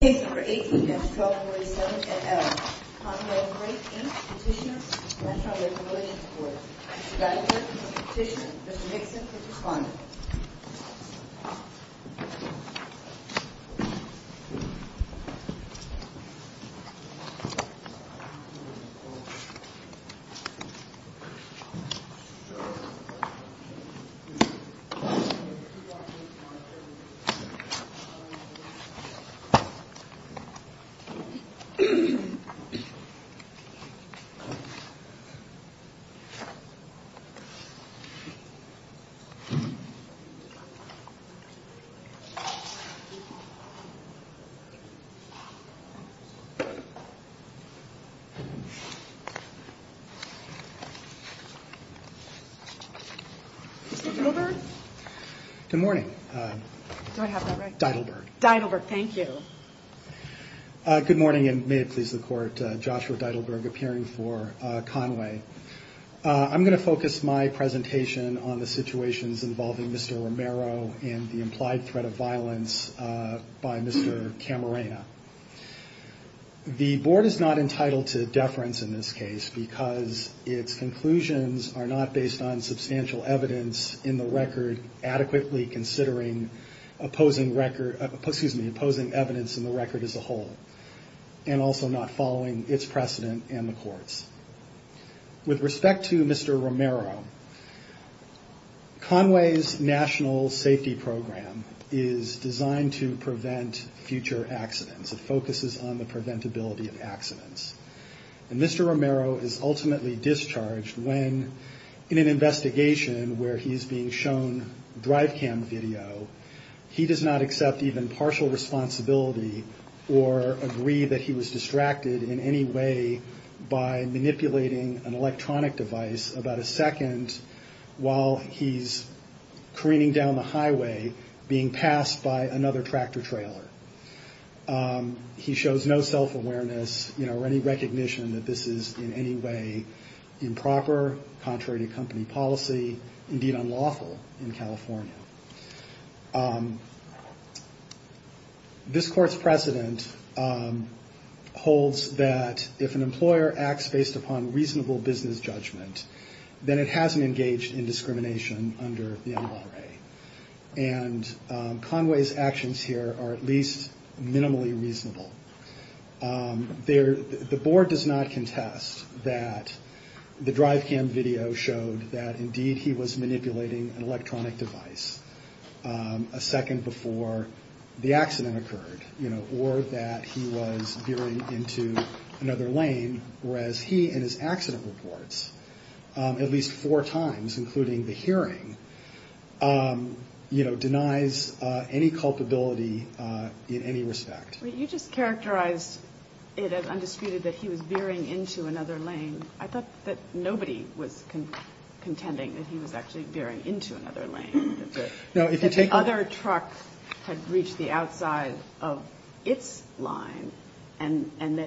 Case No. 18 at 1247 NL, Con-Way Freight, Inc. Petitioner, National Recreation Corps. Mr. Bradford, Petitioner. Mr. Nixon, please respond. Good morning. Do I have that right? D'Heidelberg. D'Heidelberg, thank you. Good morning, and may it please the Court, Joshua D'Heidelberg appearing for Con-Way. I'm going to focus my presentation on the situations involving Mr. Romero and the implied threat of violence by Mr. Camarena. The Board is not entitled to deference in this case because its conclusions are not based on substantial evidence in the record adequately considering opposing record, excuse me, opposing evidence in the record as a whole, and also not following its precedent and the Court's. With respect to Mr. Romero, Con-Way's national safety program is designed to prevent future accidents. It focuses on the preventability of accidents. And Mr. Romero is ultimately discharged when, in an investigation where he's being shown drive cam video, he does not accept even partial responsibility or agree that he was distracted in any way by manipulating an electronic device about a second while he's careening down the highway being passed by another tractor trailer. He shows no self-awareness or any recognition that this is in any way improper, contrary to company policy, indeed unlawful in California. This Court's precedent holds that if an employer acts based upon reasonable business judgment, then it hasn't engaged in discrimination under the NRA. And Con-Way's actions here are at least minimally reasonable. The Board does not contest that the drive cam video showed that, indeed, he was manipulating an electronic device a second before the accident occurred, or that he was veering into another lane, whereas he, in his accident reports, at least four times, including the hearing, denies any culpability in any respect. You just characterized it as undisputed that he was veering into another lane. I thought that nobody was contending that he was actually veering into another lane, that the other truck had reached the outside of its line, and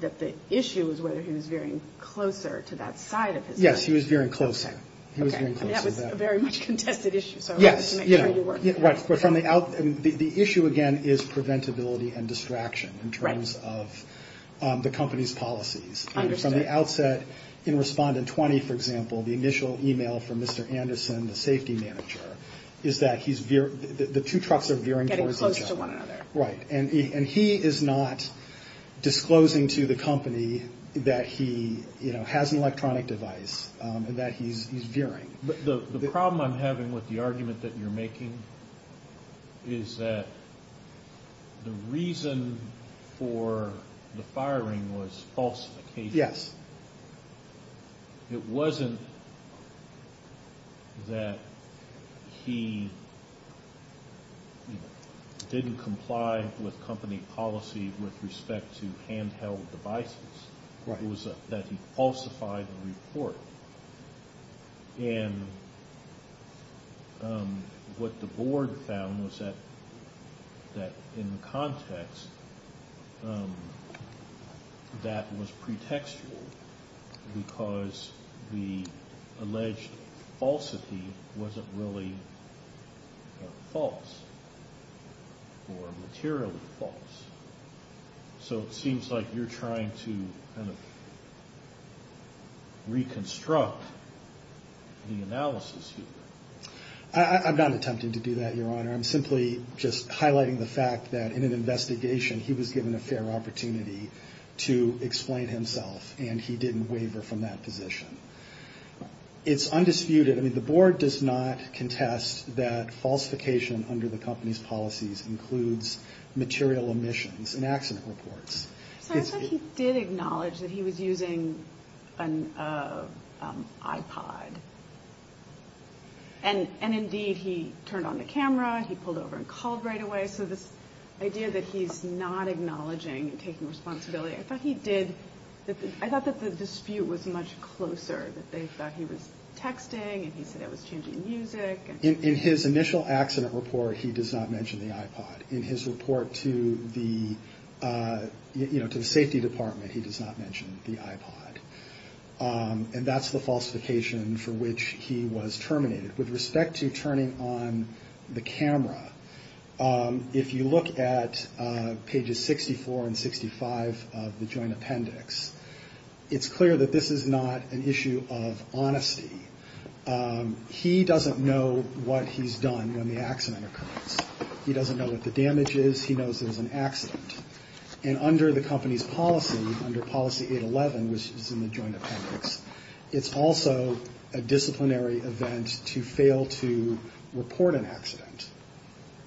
that the issue was whether he was veering closer to that side of his lane. Yes, he was veering closer. Okay, that was a very much contested issue, so I want to make sure you're working on it. The issue, again, is preventability and distraction in terms of the company's policies. Understood. From the outset, in Respondent 20, for example, the initial email from Mr. Anderson, the safety manager, is that the two trucks are veering towards each other. Getting close to one another. Right, and he is not disclosing to the company that he has an electronic device and that he's veering. The problem I'm having with the argument that you're making is that the reason for the firing was falsification. Yes. It wasn't that he didn't comply with company policy with respect to handheld devices. It was that he falsified the report. And what the board found was that in the context, that was pretextual because the alleged falsity wasn't really false or materially false. So it seems like you're trying to kind of reconstruct the analysis here. I'm not attempting to do that, Your Honor. I'm simply just highlighting the fact that in an investigation, he was given a fair opportunity to explain himself, and he didn't waver from that position. It's undisputed. I mean, the board does not contest that falsification under the company's policies includes material omissions and accident reports. So I thought he did acknowledge that he was using an iPod. And indeed, he turned on the camera. He pulled over and called right away. So this idea that he's not acknowledging and taking responsibility, I thought he did. In his initial accident report, he does not mention the iPod. In his report to the safety department, he does not mention the iPod. And that's the falsification for which he was terminated. With respect to turning on the camera, if you look at pages 64 and 65 of the joint appendix, it's clear that this is not an issue of honesty. He doesn't know what he's done when the accident occurs. He doesn't know what the damage is. He knows it was an accident. And under the company's policy, under policy 811, which is in the joint appendix, it's also a disciplinary event to fail to report an accident.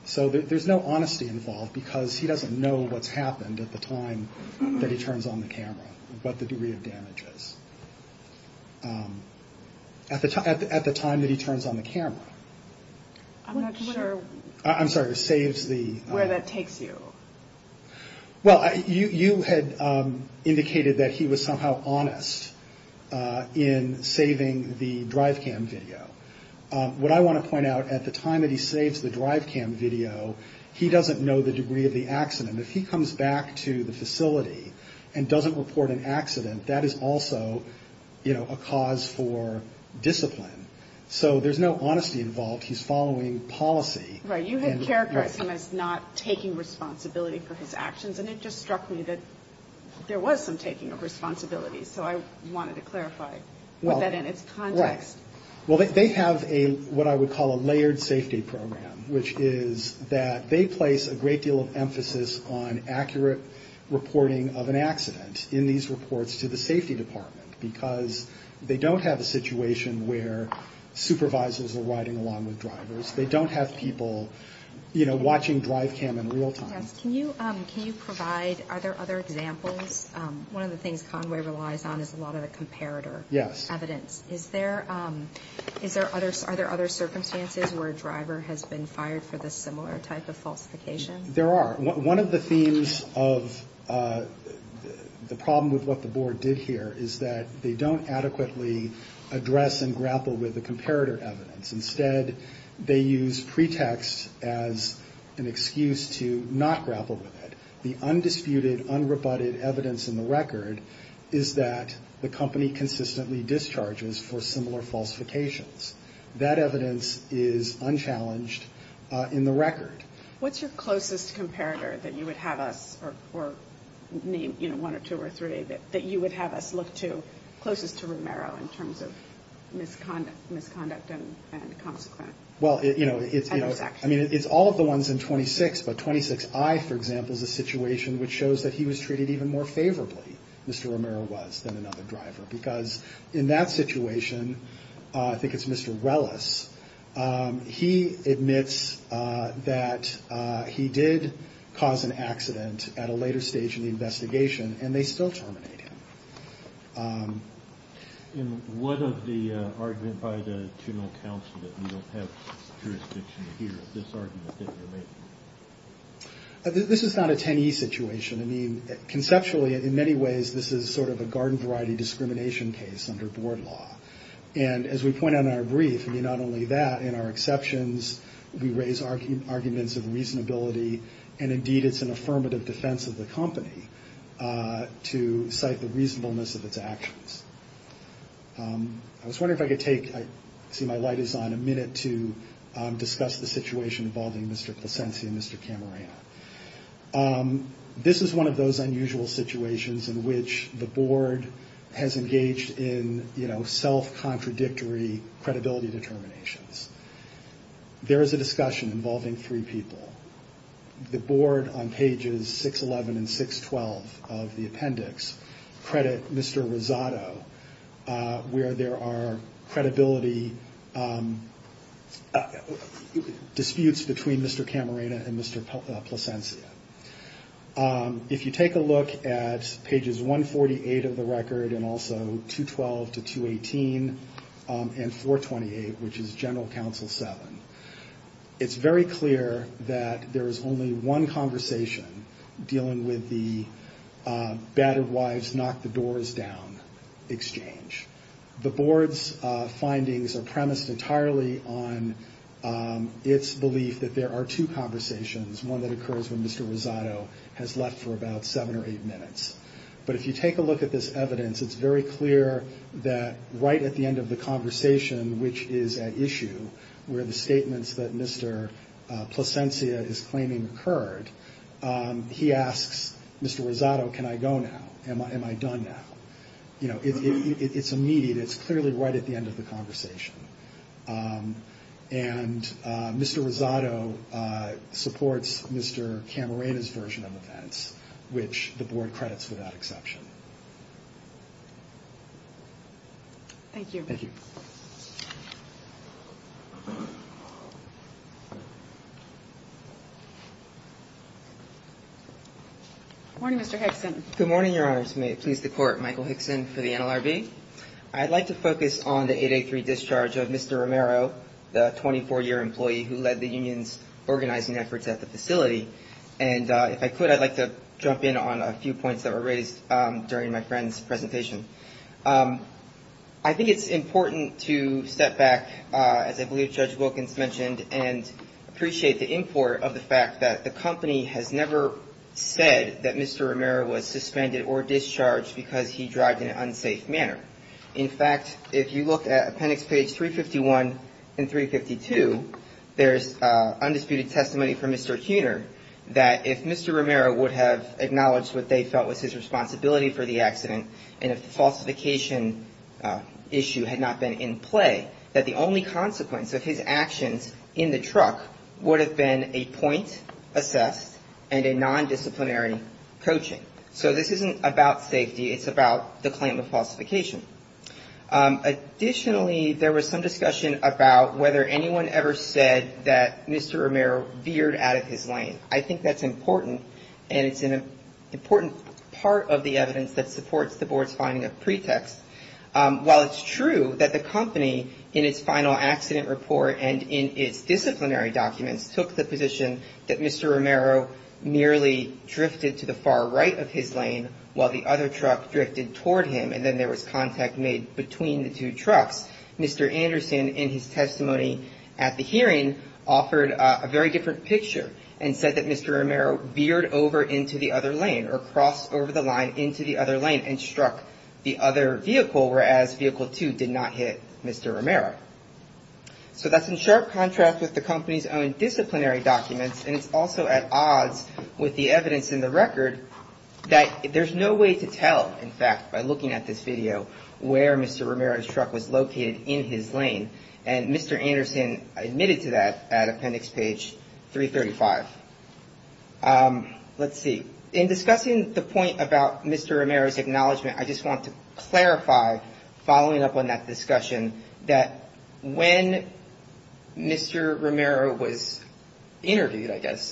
So there's no honesty involved because he doesn't know what's happened at the time that he turns on the camera, what the degree of damage is. At the time that he turns on the camera. I'm not sure where that takes you. Well, you had indicated that he was somehow honest in saving the DriveCam video. What I want to point out, at the time that he saves the DriveCam video, he doesn't know the degree of the accident. If he comes back to the facility and doesn't report an accident, that is also, you know, a cause for discipline. So there's no honesty involved. He's following policy. Right. You had characterized him as not taking responsibility for his actions, and it just struck me that there was some taking of responsibility. So I wanted to clarify with that in its context. Well, they have what I would call a layered safety program, which is that they place a great deal of emphasis on accurate reporting of an accident in these reports to the safety department because they don't have a situation where supervisors are riding along with drivers. They don't have people, you know, watching DriveCam in real time. Yes. Can you provide, are there other examples? One of the things Conway relies on is a lot of the comparator evidence. Yes. Is there, is there other, are there other circumstances where a driver has been fired for this similar type of falsification? There are. One of the themes of the problem with what the board did here is that they don't adequately address and grapple with the comparator evidence. Instead, they use pretext as an excuse to not grapple with it. The undisputed, unrebutted evidence in the record is that the company consistently discharges for similar falsifications. That evidence is unchallenged in the record. What's your closest comparator that you would have us, or name one or two or three, that you would have us look to closest to Romero in terms of misconduct and consequent? Well, you know, it's all of the ones in 26, but 26I, for example, is a situation which shows that he was treated even more favorably, Mr. Romero was, than another driver. Because in that situation, I think it's Mr. Wellis, he admits that he did cause an accident at a later stage in the investigation, and they still terminate him. And what of the argument by the juvenile counsel that we don't have jurisdiction to hear of this argument that you're making? This is not a 10E situation. I mean, conceptually, in many ways, this is sort of a garden variety discrimination case under board law. And as we point out in our brief, I mean, not only that, in our exceptions, we raise arguments of reasonability, and indeed it's an affirmative defense of the company to cite the reasonableness of its actions. I was wondering if I could take, I see my light is on, a minute to discuss the situation involving Mr. Placencia and Mr. Camarena. This is one of those unusual situations in which the board has engaged in, you know, self-contradictory credibility determinations. There is a discussion involving three people. The board on pages 611 and 612 of the appendix credit Mr. Rosado, where there are credibility disputes between Mr. Camarena and Mr. Placencia. If you take a look at pages 148 of the record, and also 212 to 218, and 428, which is general counsel seven, it's very clear that there is only one conversation dealing with the battered wives knock the doors down exchange. The board's findings are premised entirely on its belief that there are two conversations, one that occurs when Mr. Rosado has left for about seven or eight minutes. But if you take a look at this evidence, it's very clear that right at the end of the conversation, which is at issue where the statements that Mr. Placencia is claiming occurred, he asks Mr. Rosado, can I go now? Am I done now? You know, it's immediate, it's clearly right at the end of the conversation. And Mr. Rosado supports Mr. Camarena's version of events, which the board credits without exception. Thank you. Good morning, Mr. Hickson. Good morning, Your Honors. May it please the Court. Michael Hickson for the NLRB. I'd like to focus on the 883 discharge of Mr. Romero, the 24-year employee who led the union's organizing efforts at the facility. And if I could, I'd like to jump in on a few points that were raised during my friend's presentation. I think it's important to step back, as I believe Judge Wilkins mentioned, and appreciate the import of the fact that the company has never said that Mr. Romero was suspended or discharged because he drived in an unsafe manner. In fact, if you look at appendix page 351 and 352, there's undisputed testimony from Mr. Tuner that if Mr. Romero would have taken his responsibility for the accident and if the falsification issue had not been in play, that the only consequence of his actions in the truck would have been a point assessed and a nondisciplinary coaching. So this isn't about safety, it's about the claim of falsification. Additionally, there was some discussion about whether anyone ever said that Mr. Romero veered out of his lane. I think that's important, and it's an important part of the evidence that supports the Board's finding of pretext. While it's true that the company, in its final accident report and in its disciplinary documents, took the position that Mr. Romero merely drifted to the far right of his lane while the other truck drifted toward him, and then there was contact made between the two trucks, Mr. Anderson, in his testimony at the hearing, offered a very different picture and said that Mr. Romero was veered over into the other lane or crossed over the line into the other lane and struck the other vehicle, whereas vehicle two did not hit Mr. Romero. So that's in sharp contrast with the company's own disciplinary documents, and it's also at odds with the evidence in the record that there's no way to tell, in fact, by looking at this video, where Mr. Romero's truck was located in his lane. And Mr. Anderson admitted to that at Appendix Page 335. Let's see. In discussing the point about Mr. Romero's acknowledgement, I just want to clarify, following up on that discussion, that when Mr. Romero was interviewed, I guess,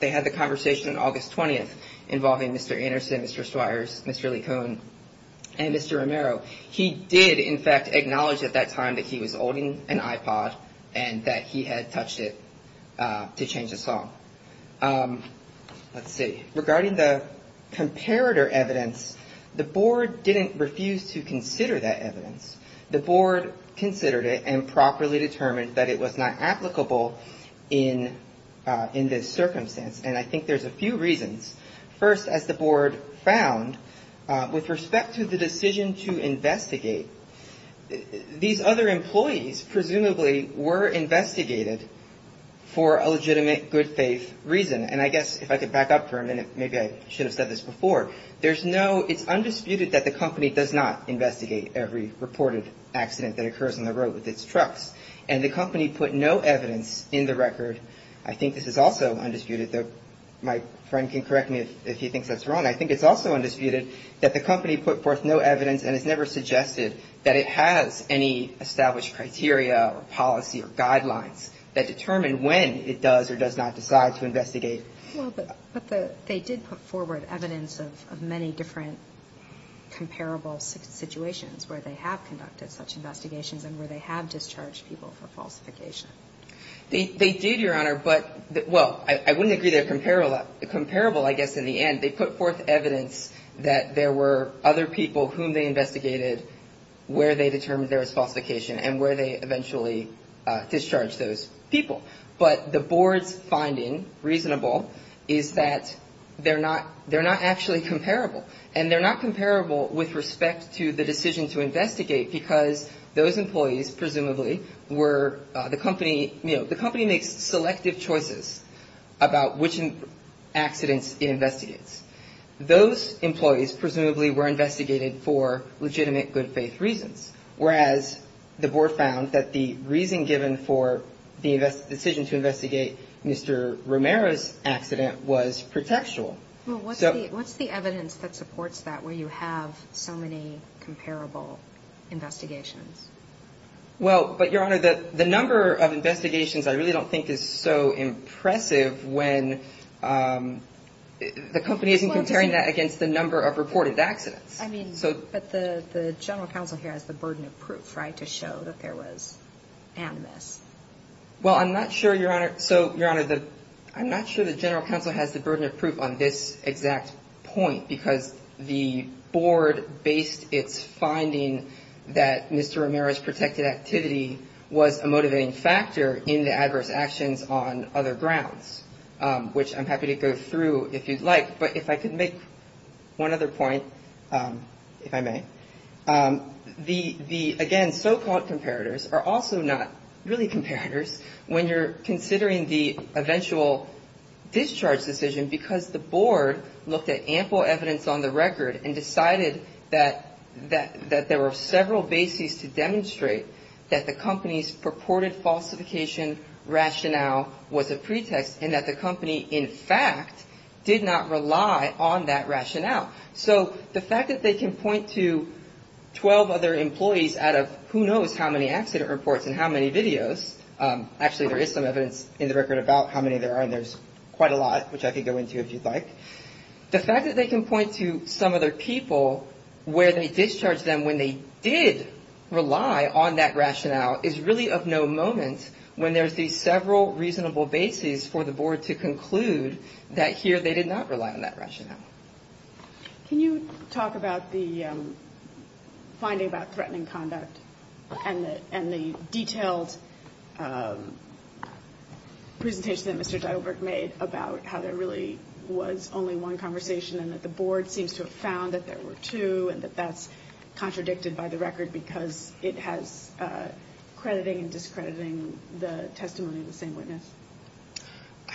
they had the conversation on August 20th involving Mr. Anderson, Mr. Swires, Mr. LeCun, and Mr. Romero. He did, in fact, acknowledge at that time that he was holding an iPod and that he had touched it to change the song. Let's see. Regarding the comparator evidence, the board didn't refuse to consider that evidence. The board considered it and properly determined that it was not applicable in this circumstance. And I think there's a few reasons. First, as the board found, with respect to the decision to investigate, these other employees, the employees, presumably, were investigated for a legitimate, good-faith reason. And I guess, if I could back up for a minute, maybe I should have said this before. There's no, it's undisputed that the company does not investigate every reported accident that occurs on the road with its trucks. And the company put no evidence in the record. I think this is also undisputed, though my friend can correct me if he thinks that's wrong. I think it's also undisputed that the company put forth no evidence and has never suggested that it has any established criteria or policy or guidelines that determine when it does or does not decide to investigate. Well, but they did put forward evidence of many different comparable situations where they have conducted such investigations and where they have discharged people for falsification. They did, Your Honor, but, well, I wouldn't agree they're comparable, I guess, in the end. They put forth evidence that there were other people whom they investigated where they determined there was falsification and where they eventually discharged those people. But the board's finding, reasonable, is that they're not actually comparable. And they're not comparable with respect to the decision to investigate because those employees, presumably, were the company, you know, the company makes selective choices about which accidents it investigates. Those employees, presumably, were investigated for legitimate good faith reasons. Whereas the board found that the reason given for the decision to investigate Mr. Romero's accident was pretextual. Well, what's the evidence that supports that, where you have so many comparable investigations? Well, but, Your Honor, the number of investigations I really don't think is so impressive when, you know, there's so many comparable investigations. The company isn't comparing that against the number of reported accidents. I mean, but the general counsel here has the burden of proof, right, to show that there was animus. Well, I'm not sure, Your Honor, so, Your Honor, I'm not sure the general counsel has the burden of proof on this exact point because the board based its finding that Mr. Romero's protected activity was a motivating factor in the adverse actions on other grounds, and that's true, if you'd like, but if I could make one other point, if I may, the, again, so-called comparators are also not really comparators when you're considering the eventual discharge decision because the board looked at ample evidence on the record and decided that there were several bases to demonstrate that the company's purported falsification rationale was a pretext and that the company, in fact, did not rely on that rationale. So the fact that they can point to 12 other employees out of who knows how many accident reports and how many videos, actually, there is some evidence in the record about how many there are, and there's quite a lot, which I could go into if you'd like, the fact that they can point to some other people where they discharged them when they did rely on that rationale is really of no moment when and there's these several reasonable bases for the board to conclude that here they did not rely on that rationale. Can you talk about the finding about threatening conduct and the detailed presentation that Mr. Dietlberg made about how there really was only one conversation and that the board seems to have found that there were two and that that's contradicted by the record because it has been found that there were two witnesses, crediting and discrediting the testimony of the same witness.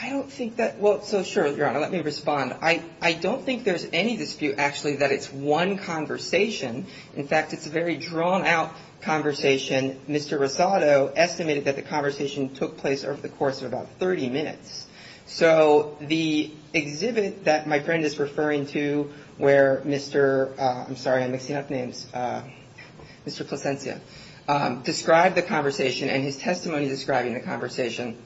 I don't think that, well, so sure, Your Honor, let me respond. I don't think there's any dispute, actually, that it's one conversation. In fact, it's a very drawn-out conversation. Mr. Rosado estimated that the conversation took place over the course of about 30 minutes. So the exhibit that my friend is referring to where Mr., I'm sorry, I'm mixing up names, Mr. Plascencia. He described the conversation and his testimony describing the conversation,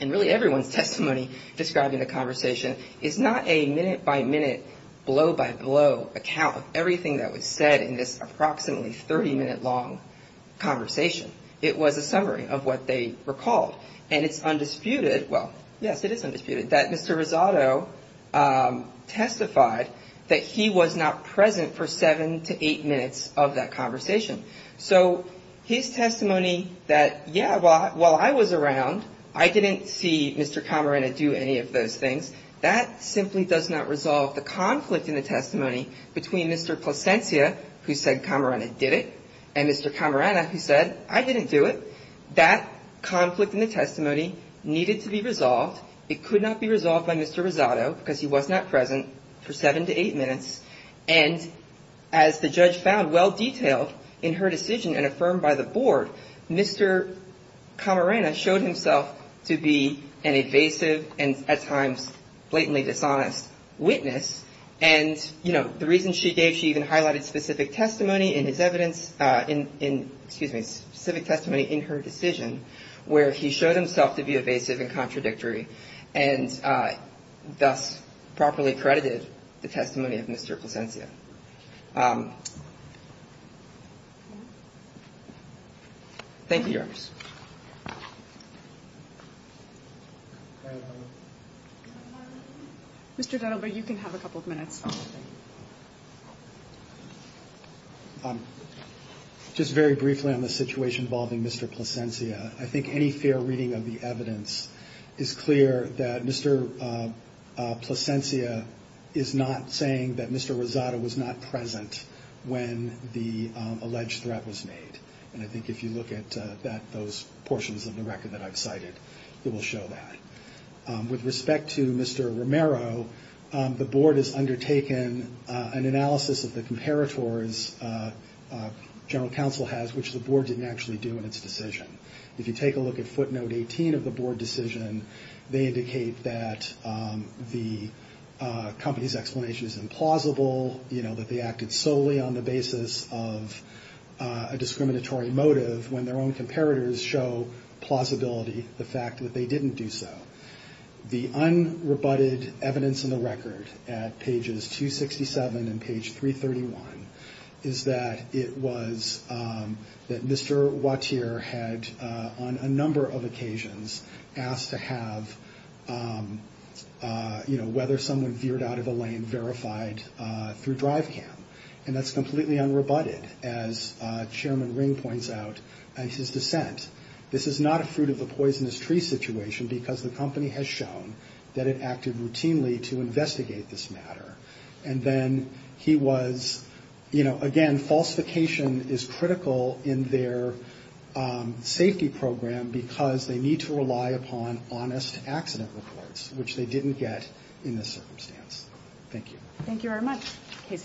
and really everyone's testimony describing the conversation, is not a minute-by-minute, blow-by-blow account of everything that was said in this approximately 30-minute-long conversation. It was a summary of what they recalled. And it's undisputed, well, yes, it is undisputed, that Mr. Rosado testified that he was not present for seven to eight minutes. He testified in the testimony that, yeah, while I was around, I didn't see Mr. Camarena do any of those things. That simply does not resolve the conflict in the testimony between Mr. Plascencia, who said Camarena did it, and Mr. Camarena, who said I didn't do it. That conflict in the testimony needed to be resolved. It could not be resolved by Mr. Rosado because he was not present for seven to eight minutes. And as the judge found well-detailed in her decision and affirmed by the board, Mr. Camarena showed himself to be an evasive and at times, blatantly dishonest witness. And, you know, the reason she gave, she even highlighted specific testimony in his evidence, in, excuse me, specific testimony in her decision, where he showed himself to be evasive and contradictory, and thus properly credited the testimony of Mr. Rosado. And I think that's what we're going to have to deal with in the case of Mr. Plascencia. Thank you, Your Honor. Mr. Dunlap, you can have a couple of minutes. Just very briefly on the situation involving Mr. Plascencia, I think any fair reading of the evidence is clear that Mr. Plascencia is not present when the alleged threat was made. And I think if you look at that, those portions of the record that I've cited, it will show that. With respect to Mr. Romero, the board has undertaken an analysis of the comparators general counsel has, which the board didn't actually do in its decision. If you take a look at footnote 18 of the board decision, they indicate that the company's explanation is implausible, that Mr. Plascencia's explanation is implausible, that they acted solely on the basis of a discriminatory motive, when their own comparators show plausibility, the fact that they didn't do so. The unrebutted evidence in the record at pages 267 and page 331 is that it was that Mr. Wautier had on a number of occasions asked to have, you know, whether someone veered out of the lane verified through drive cam. And that's completely unrebutted, as Chairman Ring points out in his dissent. This is not a fruit of the poisonous tree situation, because the company has shown that it acted routinely to investigate this matter. And then he was, you know, again, falsification is critical in their safety program, because they need to rely upon honest accident reports, which they didn't get in this circumstance. Thank you.